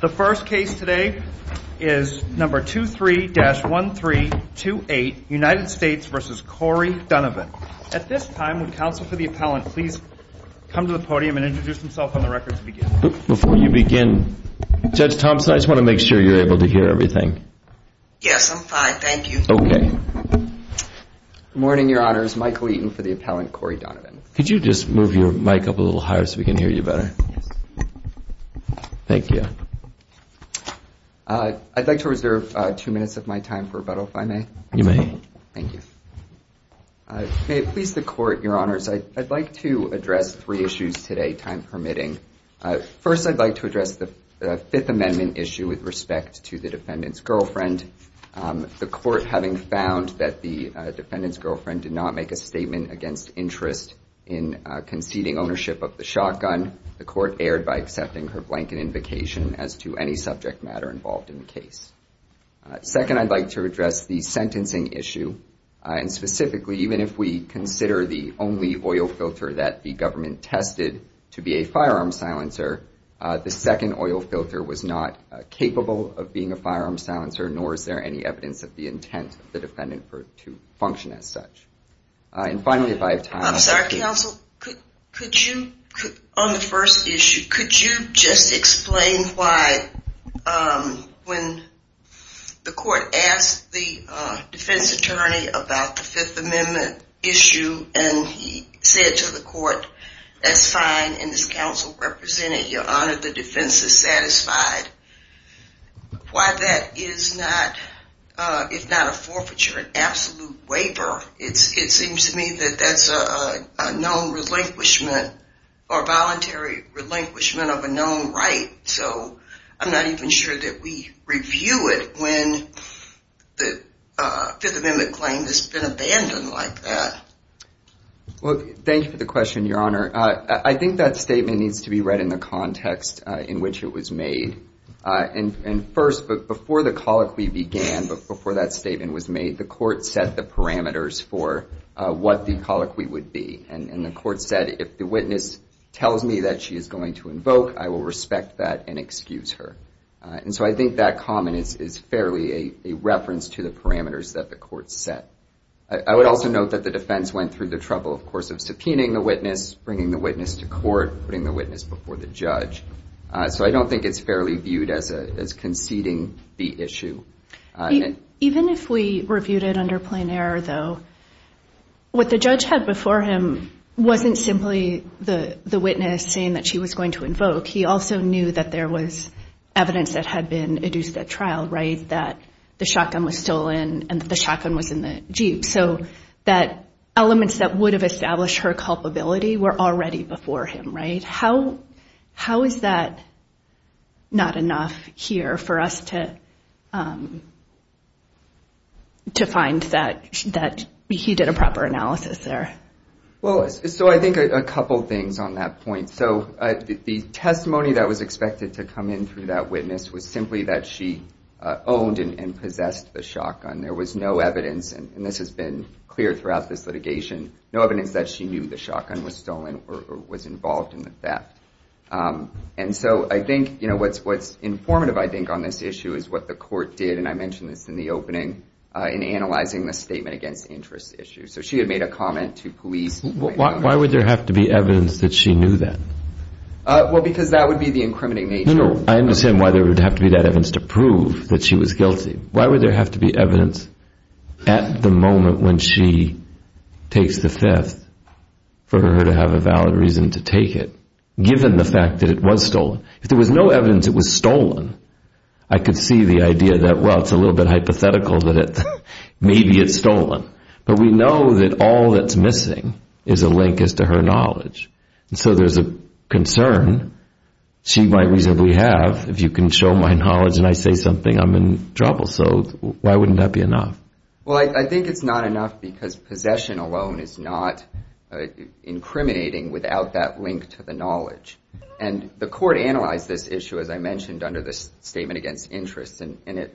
The first case today is number 23-1328, United States v. Corey Donovan. At this time, would counsel for the appellant please come to the podium and introduce himself on the record to begin. Before you begin, Judge Thompson, I just want to make sure you're able to hear everything. Yes, I'm fine, thank you. Okay. Good morning, your honors. Michael Eaton for the appellant, Corey Donovan. Could you just move your mic up a little higher so we can hear you better? Yes. Thank you. I'd like to reserve two minutes of my time for rebuttal, if I may. You may. Thank you. May it please the court, your honors, I'd like to address three issues today, time permitting. First, I'd like to address the Fifth Amendment issue with respect to the defendant's girlfriend. The court, having found that the defendant's girlfriend did not make a statement against interest in conceding ownership of the shotgun, the court erred by accepting her blanket invocation as to any subject matter involved in the case. Second, I'd like to address the sentencing issue. And specifically, even if we consider the only oil filter that the government tested to be a firearm silencer, the second oil filter was not capable of being a firearm silencer, nor is there any evidence of the intent of the defendant to function as such. And finally, if I have time. I'm sorry, counsel. Could you, on the first issue, could you just explain why when the court asked the defense attorney about the Fifth Amendment issue and he said to the court, that's fine, and this counsel represented, your honor, the defense is satisfied, why that is not, if not a forfeiture, an absolute waiver. It seems to me that that's a known relinquishment or voluntary relinquishment of a known right. So I'm not even sure that we review it when the Fifth Amendment claim has been abandoned like that. Well, thank you for the question, your honor. I think that statement needs to be read in the context in which it was made. And first, before the colloquy began, before that statement was made, the court set the parameters for what the colloquy would be. And the court said, if the witness tells me that she is going to invoke, I will respect that and excuse her. And so I think that comment is fairly a reference to the parameters that the court set. I would also note that the defense went through the trouble, of course, of subpoenaing the witness, bringing the witness to court, putting the witness before the judge. So I don't think it's fairly viewed as conceding the issue. Even if we reviewed it under plain error, though, what the judge had before him wasn't simply the witness saying that she was going to invoke. He also knew that there was evidence that had been adduced at trial, right, that the shotgun was stolen and the shotgun was in the Jeep. So that elements that would have established her culpability were already before him. How is that not enough here for us to find that he did a proper analysis there? Well, so I think a couple things on that point. So the testimony that was expected to come in through that witness was simply that she owned and possessed the shotgun. There was no evidence, and this has been clear throughout this litigation, no evidence that she knew the shotgun was stolen or was involved in the theft. And so I think, you know, what's informative, I think, on this issue is what the court did, and I mentioned this in the opening, in analyzing the statement against interest issue. So she had made a comment to police. Why would there have to be evidence that she knew that? Well, because that would be the incriminating nature. No, no, I understand why there would have to be that evidence to prove that she was guilty. Why would there have to be evidence at the moment when she takes the fifth for her to have a valid reason to take it, given the fact that it was stolen? If there was no evidence it was stolen, I could see the idea that, well, it's a little bit hypothetical that maybe it's stolen. But we know that all that's missing is a link as to her knowledge. And so there's a concern she might reasonably have, if you can show my knowledge and I say something, I'm in trouble. So why wouldn't that be enough? Well, I think it's not enough because possession alone is not incriminating without that link to the knowledge. And the court analyzed this issue, as I mentioned, under the statement against interest. And it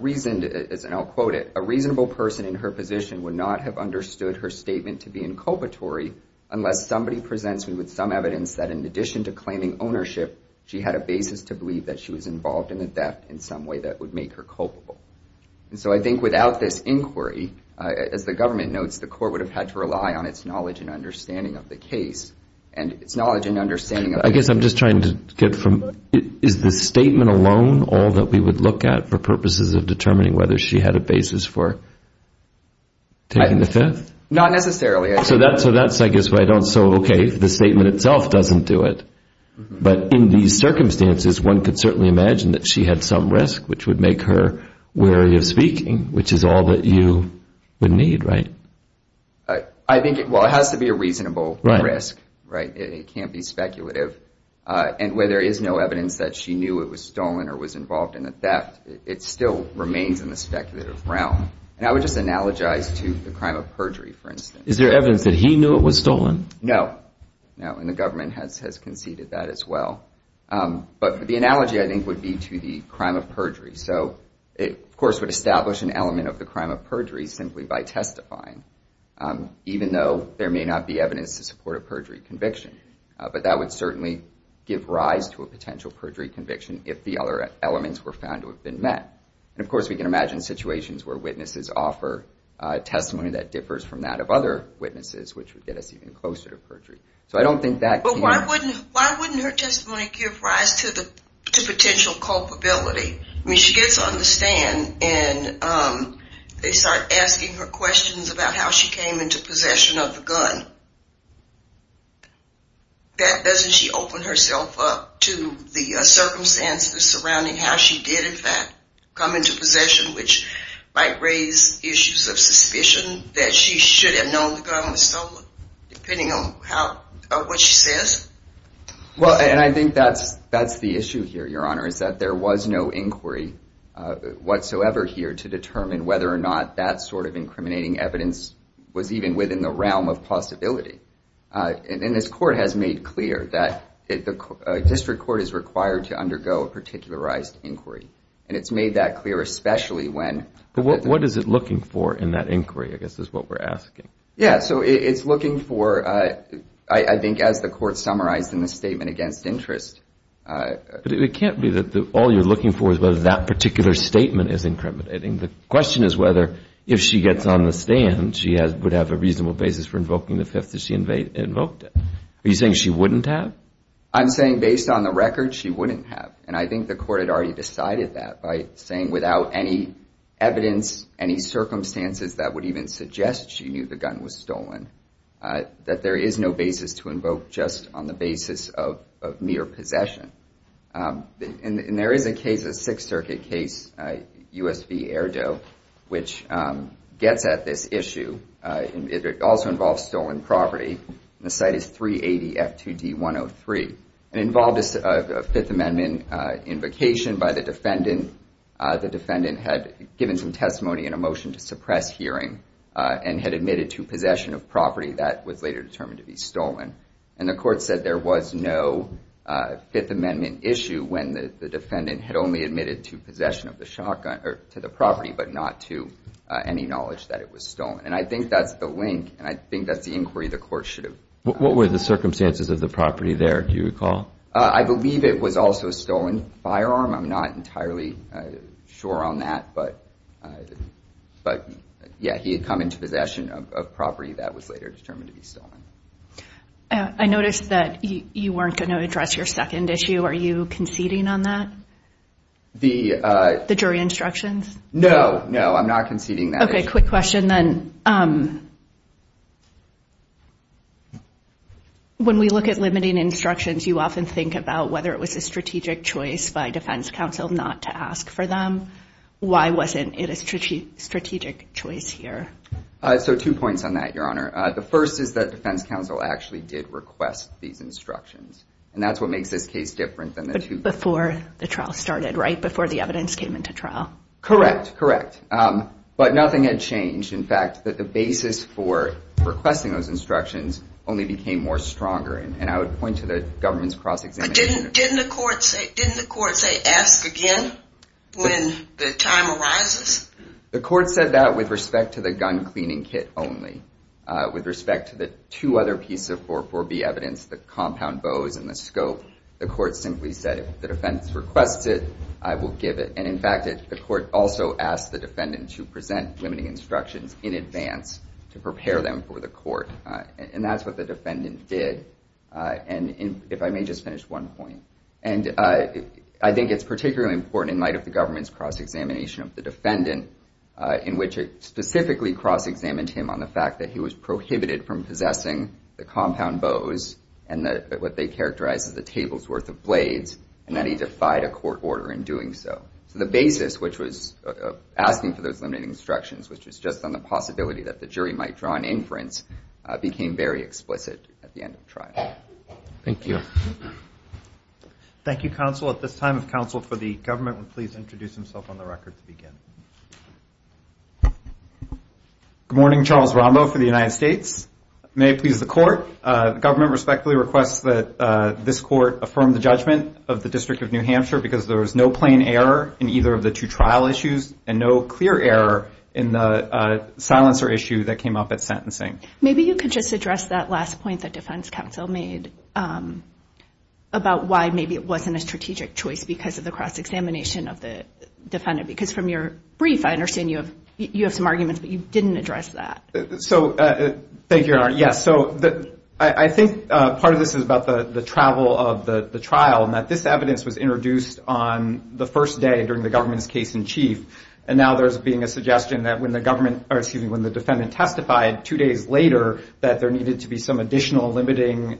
reasoned, and I'll quote it, a reasonable person in her position would not have understood her statement to be inculpatory unless somebody presents me with some evidence that in addition to claiming ownership, she had a basis to believe that she was involved in the theft in some way that would make her culpable. And so I think without this inquiry, as the government notes, the court would have had to rely on its knowledge and understanding of the case. And its knowledge and understanding of the case. I guess I'm just trying to get from, is the statement alone all that we would look at for purposes of determining whether she had a basis for taking the theft? Not necessarily. So that's, I guess, why I don't. So, OK, the statement itself doesn't do it. But in these circumstances, one could certainly imagine that she had some risk, which would make her wary of speaking, which is all that you would need, right? I think, well, it has to be a reasonable risk, right? It can't be speculative. And where there is no evidence that she knew it was stolen or was involved in the theft, it still remains in the speculative realm. And I would just analogize to the crime of perjury, for instance. Is there evidence that he knew it was stolen? No. No, and the government has conceded that as well. But the analogy, I think, would be to the crime of perjury. So it, of course, would establish an element of the crime of perjury simply by testifying, even though there may not be evidence to support a perjury conviction. But that would certainly give rise to a potential perjury conviction if the other elements were found to have been met. And, of course, we can imagine situations where witnesses offer testimony that differs from that of other witnesses, which would get us even closer to perjury. So I don't think that can... But why wouldn't her testimony give rise to potential culpability? I mean, she gets on the stand, and they start asking her questions about how she came into possession of the gun. Doesn't she open herself up to the circumstances surrounding how she did, in fact, come into possession, which might raise issues of suspicion that she should have known the gun was stolen, depending on what she says? Well, and I think that's the issue here, Your Honor, is that there was no inquiry whatsoever here to determine whether or not that sort of incriminating evidence was even within the realm of possibility. And this Court has made clear that a district court is required to undergo a particularized inquiry. And it's made that clear, especially when... But what is it looking for in that inquiry, I guess, is what we're asking. Yeah, so it's looking for, I think, as the Court summarized in the statement against interest... But it can't be that all you're looking for is whether that particular statement is incriminating. The question is whether, if she gets on the stand, she would have a reasonable basis for invoking the Fifth that she invoked. Are you saying she wouldn't have? I'm saying, based on the record, she wouldn't have. And I think the Court had already decided that by saying without any evidence, any circumstances that would even suggest she knew the gun was stolen, that there is no basis to invoke just on the basis of mere possession. And there is a case, a Sixth Circuit case, U.S. v. Erdo, which gets at this issue. It also involves stolen property. The site is 380 F2D 103. It involved a Fifth Amendment invocation by the defendant. The defendant had given some testimony in a motion to suppress hearing and had admitted to possession of property that was later determined to be stolen. And the Court said there was no Fifth Amendment issue when the defendant had only admitted to possession of the property but not to any knowledge that it was stolen. And I think that's the link, and I think that's the inquiry the Court should have... What were the circumstances of the property there, do you recall? I believe it was also a stolen firearm. I'm not entirely sure on that. But, yeah, he had come into possession of property that was later determined to be stolen. I noticed that you weren't going to address your second issue. Are you conceding on that? The jury instructions? No, no, I'm not conceding that issue. Okay, quick question then. When we look at limiting instructions, you often think about whether it was a strategic choice by defense counsel not to ask for them. Why wasn't it a strategic choice here? So two points on that, Your Honor. The first is that defense counsel actually did request these instructions. And that's what makes this case different than the two... But before the trial started, right? Before the evidence came into trial. Correct, correct. But nothing had changed. In fact, the basis for requesting those instructions only became more stronger. And I would point to the government's cross-examination... But didn't the Court say, ask again when the time arises? The Court said that with respect to the gun cleaning kit only. With respect to the two other pieces of 44B evidence, the compound bows and the scope, the Court simply said if the defense requests it, I will give it. And in fact, the Court also asked the defendant to present limiting instructions in advance to prepare them for the Court. And that's what the defendant did. And if I may just finish one point. And I think it's particularly important in light of the government's cross-examination of the defendant in which it specifically cross-examined him on the fact that he was prohibited from possessing the compound bows and what they characterize as a table's worth of blades, and that he defied a court order in doing so. So the basis which was asking for those limiting instructions, which was just on the possibility that the jury might draw an inference, became very explicit at the end of the trial. Thank you. Thank you, counsel. At this time, if counsel for the government would please introduce himself on the record to begin. Good morning. Charles Rombo for the United States. May it please the Court, the government respectfully requests that this Court affirm the judgment of the District of New Hampshire because there was no plain error in either of the two trial issues and no clear error in the silencer issue that came up at sentencing. Maybe you could just address that last point that defense counsel made about why maybe it wasn't a strategic choice because of the cross-examination of the defendant. Because from your brief, I understand you have some arguments, but you didn't address that. Thank you, Your Honor. Yes, so I think part of this is about the travel of the trial and that this evidence was introduced on the first day during the government's case in chief, and now there's being a suggestion that when the defendant testified two days later that there needed to be some additional limiting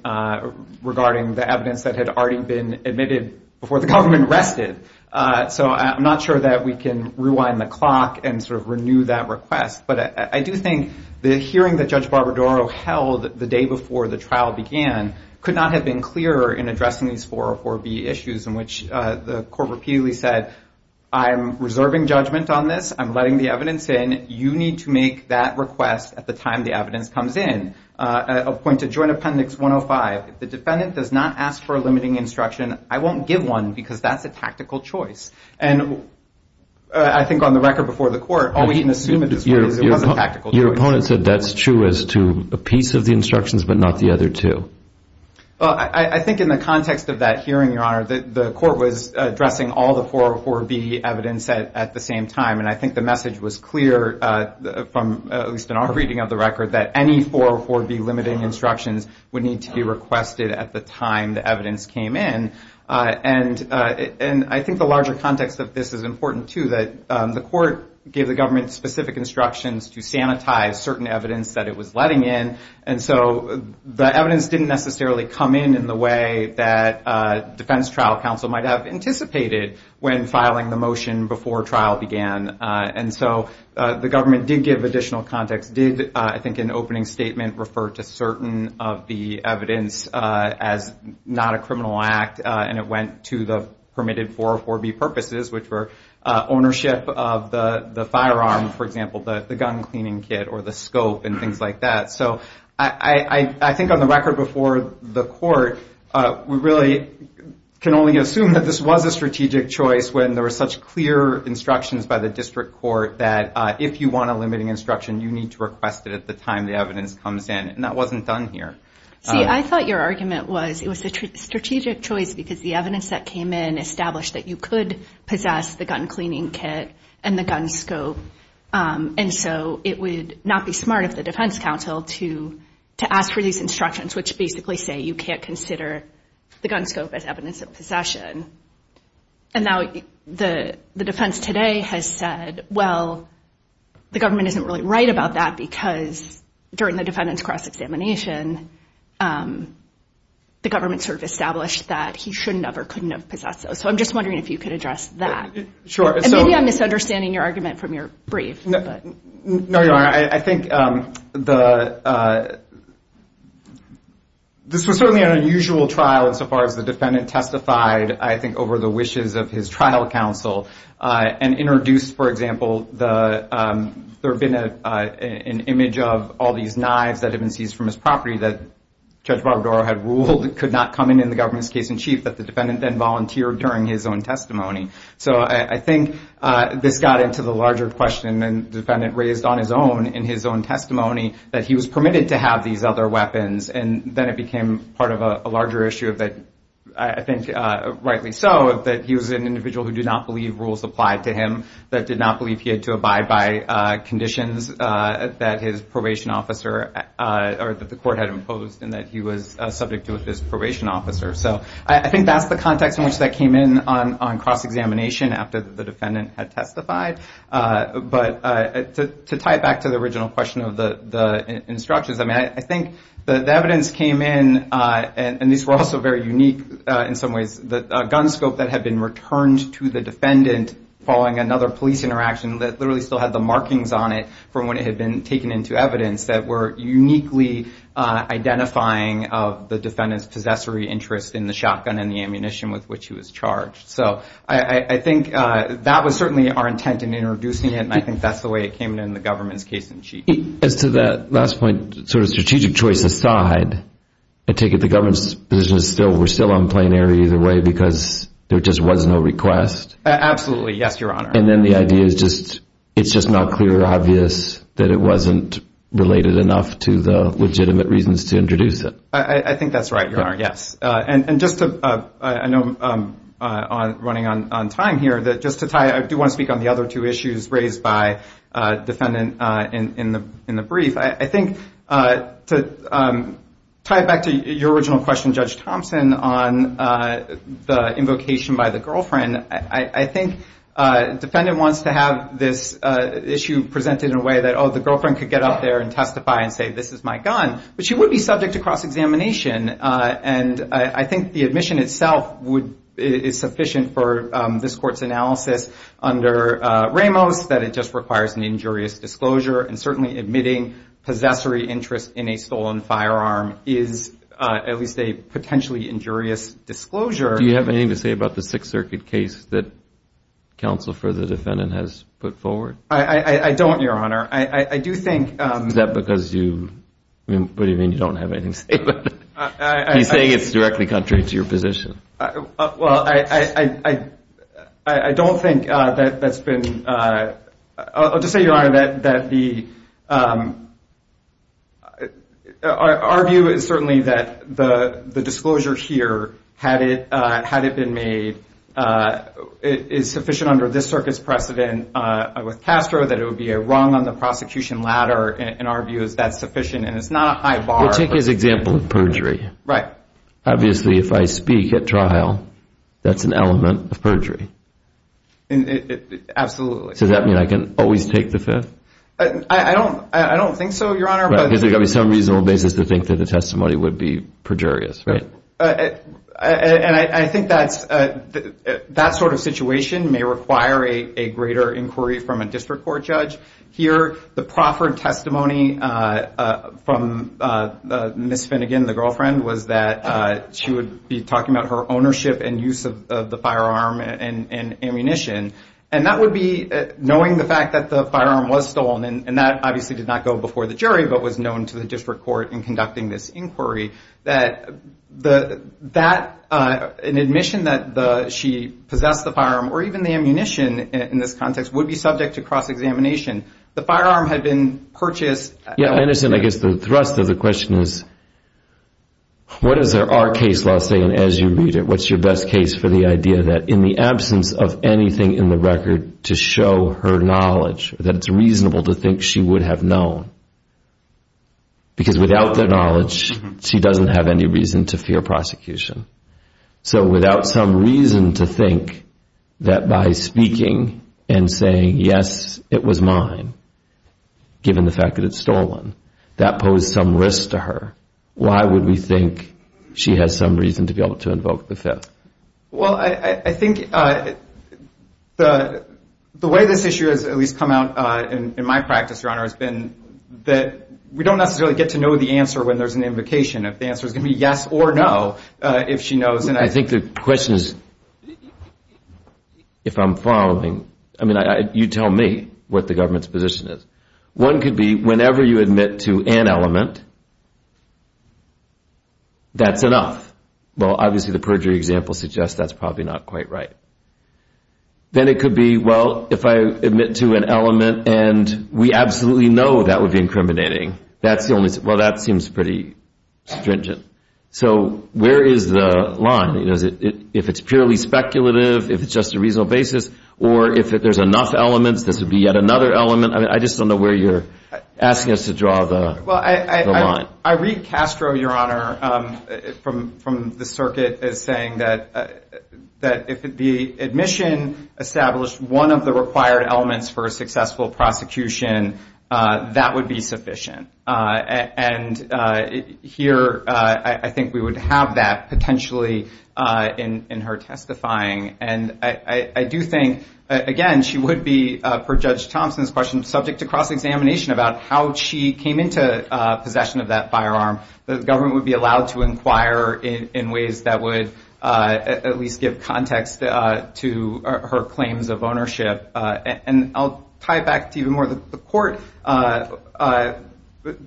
regarding the evidence that had already been admitted before the government rested. So I'm not sure that we can rewind the clock and sort of renew that request. But I do think the hearing that Judge Barbadaro held the day before the trial began could not have been clearer in addressing these 404B issues in which the Court repeatedly said, I'm reserving judgment on this. I'm letting the evidence in. You need to make that request at the time the evidence comes in. I'll point to Joint Appendix 105. If the defendant does not ask for a limiting instruction, I won't give one because that's a tactical choice. And I think on the record before the Court, all we can assume at this point is it was a tactical choice. Your opponent said that's true as to a piece of the instructions but not the other two. I think in the context of that hearing, Your Honor, the Court was addressing all the 404B evidence at the same time, and I think the message was clear, at least in our reading of the record, that any 404B limiting instructions would need to be requested at the time the evidence came in. And I think the larger context of this is important, too, that the Court gave the government specific instructions to sanitize certain evidence that it was letting in. And so the evidence didn't necessarily come in in the way that Defense Trial Counsel might have anticipated when filing the motion before trial began. And so the government did give additional context, did, I think, an opening statement refer to certain of the evidence as not a criminal act, and it went to the permitted 404B purposes, which were ownership of the firearm, for example, the gun cleaning kit or the scope and things like that. So I think on the record before the Court, we really can only assume that this was a strategic choice when there was such clear instructions by the district court that if you want a limiting instruction, you need to request it at the time the evidence comes in, and that wasn't done here. See, I thought your argument was it was a strategic choice because the evidence that came in established that you could possess the gun cleaning kit and the gun scope, and so it would not be smart of the defense counsel to ask for these instructions, which basically say you can't consider the gun scope as evidence of possession. And now the defense today has said, well, the government isn't really right about that because during the defendant's cross-examination, the government sort of established that he shouldn't have or couldn't have possessed those. So I'm just wondering if you could address that. And maybe I'm misunderstanding your argument from your brief. No, you aren't. I think this was certainly an unusual trial insofar as the defendant testified, I think, over the wishes of his trial counsel and introduced, for example, there had been an image of all these knives that had been seized from his property that Judge Barbadaro had ruled could not come in in the government's case in chief that the defendant then volunteered during his own testimony. So I think this got into the larger question, and the defendant raised on his own, in his own testimony, that he was permitted to have these other weapons, and then it became part of a larger issue of that, I think rightly so, that he was an individual who did not believe rules applied to him, that did not believe he had to abide by conditions that his probation officer or that the court had imposed and that he was subject to with his probation officer. So I think that's the context in which that came in on cross-examination after the defendant had testified. But to tie it back to the original question of the instructions, I mean, I think the evidence came in, and these were also very unique in some ways, the gun scope that had been returned to the defendant following another police interaction that literally still had the markings on it from when it had been taken into evidence that were uniquely identifying of the defendant's possessory interest in the shotgun and the ammunition with which he was charged. So I think that was certainly our intent in introducing it, and I think that's the way it came in in the government's case in chief. As to that last point, sort of strategic choice aside, I take it the government's position is still, we're still on plenary either way because there just was no request? Absolutely. Yes, Your Honor. And then the idea is just it's just not clear or obvious that it wasn't related enough to the legitimate reasons to introduce it. I think that's right, Your Honor, yes. And just to, I know I'm running on time here, but just to tie it, I do want to speak on the other two issues raised by the defendant in the brief. I think to tie it back to your original question, Judge Thompson, on the invocation by the girlfriend, I think the defendant wants to have this issue presented in a way that, oh, the girlfriend could get up there and testify and say, this is my gun. But she would be subject to cross-examination, and I think the admission itself is sufficient for this court's analysis under Ramos, that it just requires an injurious disclosure, and certainly admitting possessory interest in a stolen firearm is at least a potentially injurious disclosure. Do you have anything to say about the Sixth Circuit case that counsel for the defendant has put forward? I don't, Your Honor. I do think. Is that because you, what do you mean you don't have anything to say about it? He's saying it's directly contrary to your position. Well, I don't think that that's been, I'll just say, Your Honor, that the, our view is certainly that the disclosure here, had it been made, is sufficient under this circuit's precedent with Castro that it would be a wrong on the prosecution ladder, and our view is that's sufficient, and it's not a high bar. Well, take his example of perjury. Right. Obviously, if I speak at trial, that's an element of perjury. Absolutely. Does that mean I can always take the Fifth? I don't think so, Your Honor. Right, because there's got to be some reasonable basis to think that the testimony would be perjurious, right? And I think that sort of situation may require a greater inquiry from a district court judge. Here, the proffered testimony from Ms. Finnegan, the girlfriend, was that she would be talking about her ownership and use of the firearm and ammunition, and that would be knowing the fact that the firearm was stolen, and that obviously did not go before the jury but was known to the district court in conducting this inquiry, that an admission that she possessed the firearm or even the ammunition in this context would be subject to cross-examination. The firearm had been purchased. Yeah, I understand. I guess the thrust of the question is what is our case law saying as you read it? What's your best case for the idea that in the absence of anything in the record to show her knowledge, that it's reasonable to think she would have known? Because without that knowledge, she doesn't have any reason to fear prosecution. So without some reason to think that by speaking and saying, yes, it was mine, given the fact that it's stolen, that posed some risk to her, why would we think she has some reason to be able to invoke the Fifth? Well, I think the way this issue has at least come out in my practice, Your Honor, has been that we don't necessarily get to know the answer when there's an invocation. The answer is going to be yes or no if she knows. I think the question is, if I'm following, I mean, you tell me what the government's position is. One could be whenever you admit to an element, that's enough. Well, obviously the perjury example suggests that's probably not quite right. Then it could be, well, if I admit to an element and we absolutely know that would be incriminating, well, that seems pretty stringent. So where is the line? If it's purely speculative, if it's just a reasonable basis, or if there's enough elements, this would be yet another element? I just don't know where you're asking us to draw the line. Well, I read Castro, Your Honor, from the circuit as saying that if the admission established one of the required elements for a successful prosecution, that would be sufficient. And here I think we would have that potentially in her testifying. And I do think, again, she would be, per Judge Thompson's question, subject to cross-examination about how she came into possession of that firearm. The government would be allowed to inquire in ways that would at least give context to her claims of ownership. And I'll tie back to even more the court. The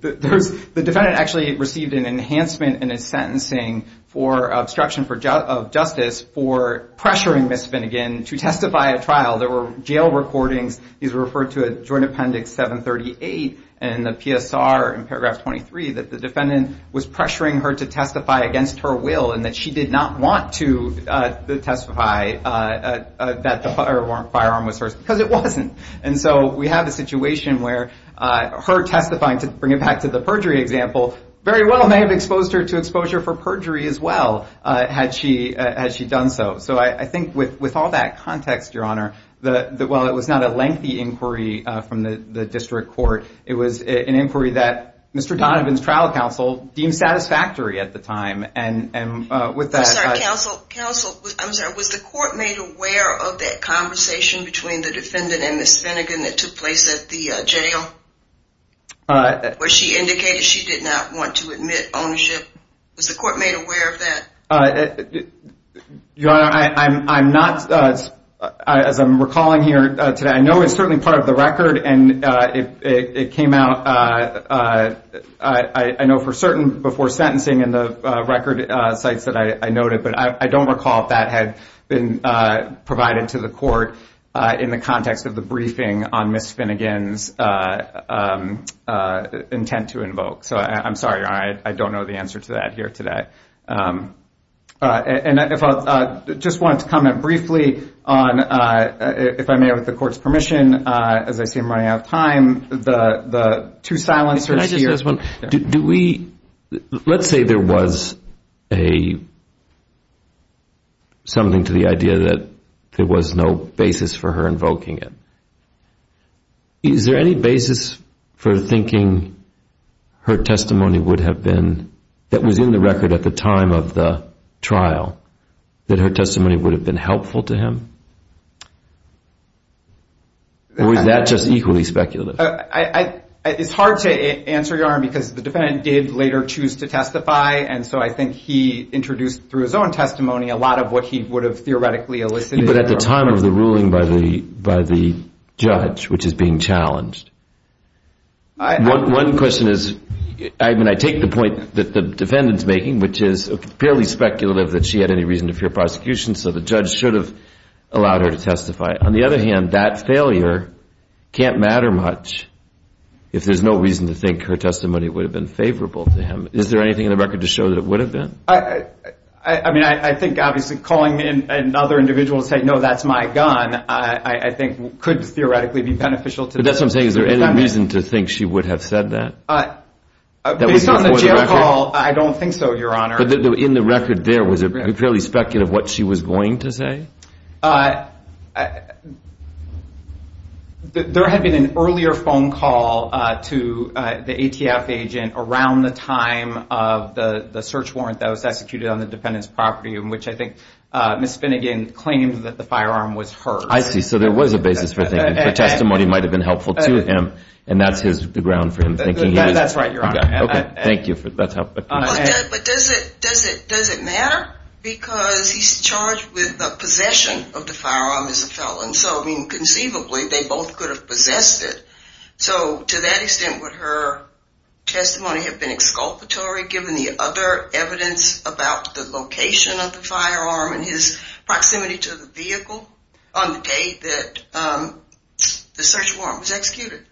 defendant actually received an enhancement in his sentencing for obstruction of justice for pressuring Ms. Finnegan to testify at trial. There were jail recordings. These were referred to Joint Appendix 738 in the PSR in paragraph 23, that the defendant was pressuring her to testify against her will and that she did not want to testify that the firearm was hers because it wasn't. And so we have a situation where her testifying, to bring it back to the perjury example, very well may have exposed her to exposure for perjury as well had she done so. So I think with all that context, Your Honor, while it was not a lengthy inquiry from the district court, it was an inquiry that Mr. Donovan's trial counsel deemed satisfactory at the time. I'm sorry. Was the court made aware of that conversation between the defendant and Ms. Finnegan that took place at the jail where she indicated she did not want to admit ownership? Was the court made aware of that? Your Honor, as I'm recalling here today, I know it's certainly part of the record and it came out, I know for certain before sentencing in the record sites that I noted, but I don't recall if that had been provided to the court in the context of the briefing on Ms. Finnegan's intent to invoke. So I'm sorry, Your Honor. I don't know the answer to that here today. And if I just wanted to comment briefly on, if I may, with the court's permission, as I see I'm running out of time, the two silencers here. Let's say there was something to the idea that there was no basis for her invoking it. Is there any basis for thinking her testimony would have been, that was in the record at the time of the trial, that her testimony would have been helpful to him? Or is that just equally speculative? It's hard to answer, Your Honor, because the defendant did later choose to testify, and so I think he introduced through his own testimony a lot of what he would have theoretically elicited. But at the time of the ruling by the judge, which is being challenged. One question is, I mean, I take the point that the defendant's making, which is fairly speculative that she had any reason to fear prosecution, so the judge should have allowed her to testify. On the other hand, that failure can't matter much if there's no reason to think her testimony would have been favorable to him. Is there anything in the record to show that it would have been? I mean, I think obviously calling in another individual to say, no, that's my gun, I think could theoretically be beneficial to them. But that's what I'm saying. Is there any reason to think she would have said that? Based on the jail call, I don't think so, Your Honor. But in the record there, was it fairly speculative what she was going to say? There had been an earlier phone call to the ATF agent around the time of the search warrant that was executed on the defendant's property, in which I think Ms. Finnegan claimed that the firearm was hers. I see. So there was a basis for thinking her testimony might have been helpful to him, and that's the ground for him thinking he was? That's right, Your Honor. Okay. Thank you. But does it matter? Because he's charged with the possession of the firearm as a felon. So, I mean, conceivably, they both could have possessed it. So to that extent, would her testimony have been exculpatory given the other evidence about the location of the firearm and his proximity to the vehicle on the day that the search warrant was executed?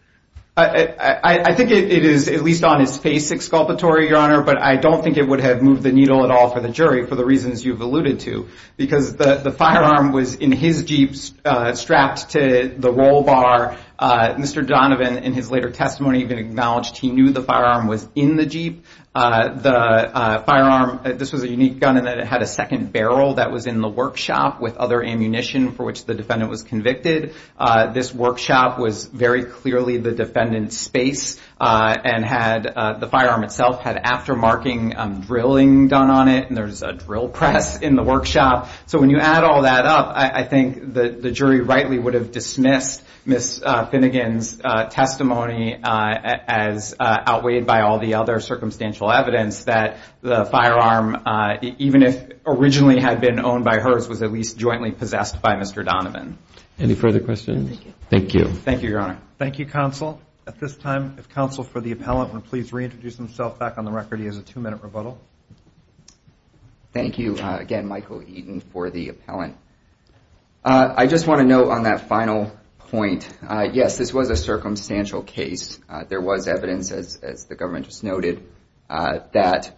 I think it is at least on his face exculpatory, Your Honor, but I don't think it would have moved the needle at all for the jury for the reasons you've alluded to, because the firearm was in his Jeep strapped to the roll bar. Mr. Donovan, in his later testimony, even acknowledged he knew the firearm was in the Jeep. The firearm, this was a unique gun in that it had a second barrel that was in the workshop with other ammunition for which the defendant was convicted. This workshop was very clearly the defendant's space and the firearm itself had aftermarking drilling done on it, and there's a drill press in the workshop. So when you add all that up, I think the jury rightly would have dismissed Ms. Finnegan's testimony as outweighed by all the other circumstantial evidence that the firearm, even if originally had been owned by hers, was at least jointly possessed by Mr. Donovan. Any further questions? Thank you. Thank you, Your Honor. Thank you, counsel. At this time, if counsel for the appellant would please reintroduce himself back on the record. He has a two-minute rebuttal. Thank you again, Michael Eaton, for the appellant. I just want to note on that final point, yes, this was a circumstantial case. There was evidence, as the government just noted, that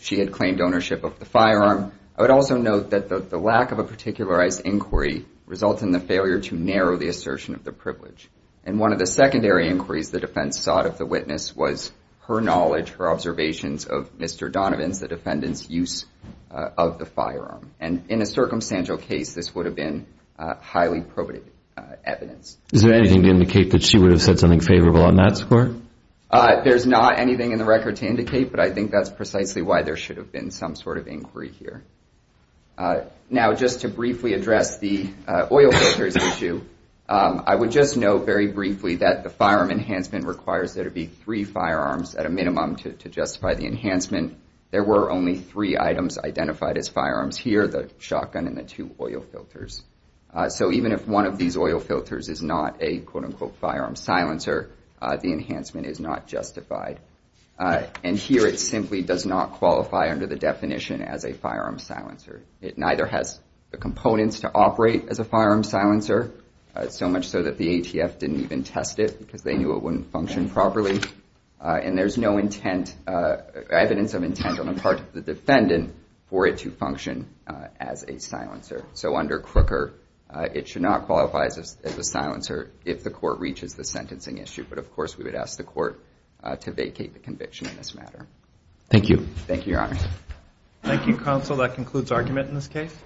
she had claimed ownership of the firearm. I would also note that the lack of a particularized inquiry results in the failure to narrow the assertion of the privilege. And one of the secondary inquiries the defense sought of the witness was her knowledge, her observations of Mr. Donovan's, the defendant's, use of the firearm. And in a circumstantial case, this would have been highly probative evidence. Is there anything to indicate that she would have said something favorable on that score? There's not anything in the record to indicate, but I think that's precisely why there should have been some sort of inquiry here. Now, just to briefly address the oil filters issue, I would just note very briefly that the firearm enhancement requires there to be three firearms at a minimum to justify the enhancement. There were only three items identified as firearms here, the shotgun and the two oil filters. So even if one of these oil filters is not a, quote unquote, firearm silencer, the enhancement is not justified. And here it simply does not qualify under the definition as a firearm silencer. It neither has the components to operate as a firearm silencer, so much so that the ATF didn't even test it because they knew it wouldn't function properly. And there's no evidence of intent on the part of the defendant for it to function as a silencer. So under Crooker, it should not qualify as a silencer if the court reaches the sentencing issue. But, of course, we would ask the court to vacate the conviction in this matter. Thank you. Thank you, Your Honor. Thank you, Counsel. That concludes argument in this case.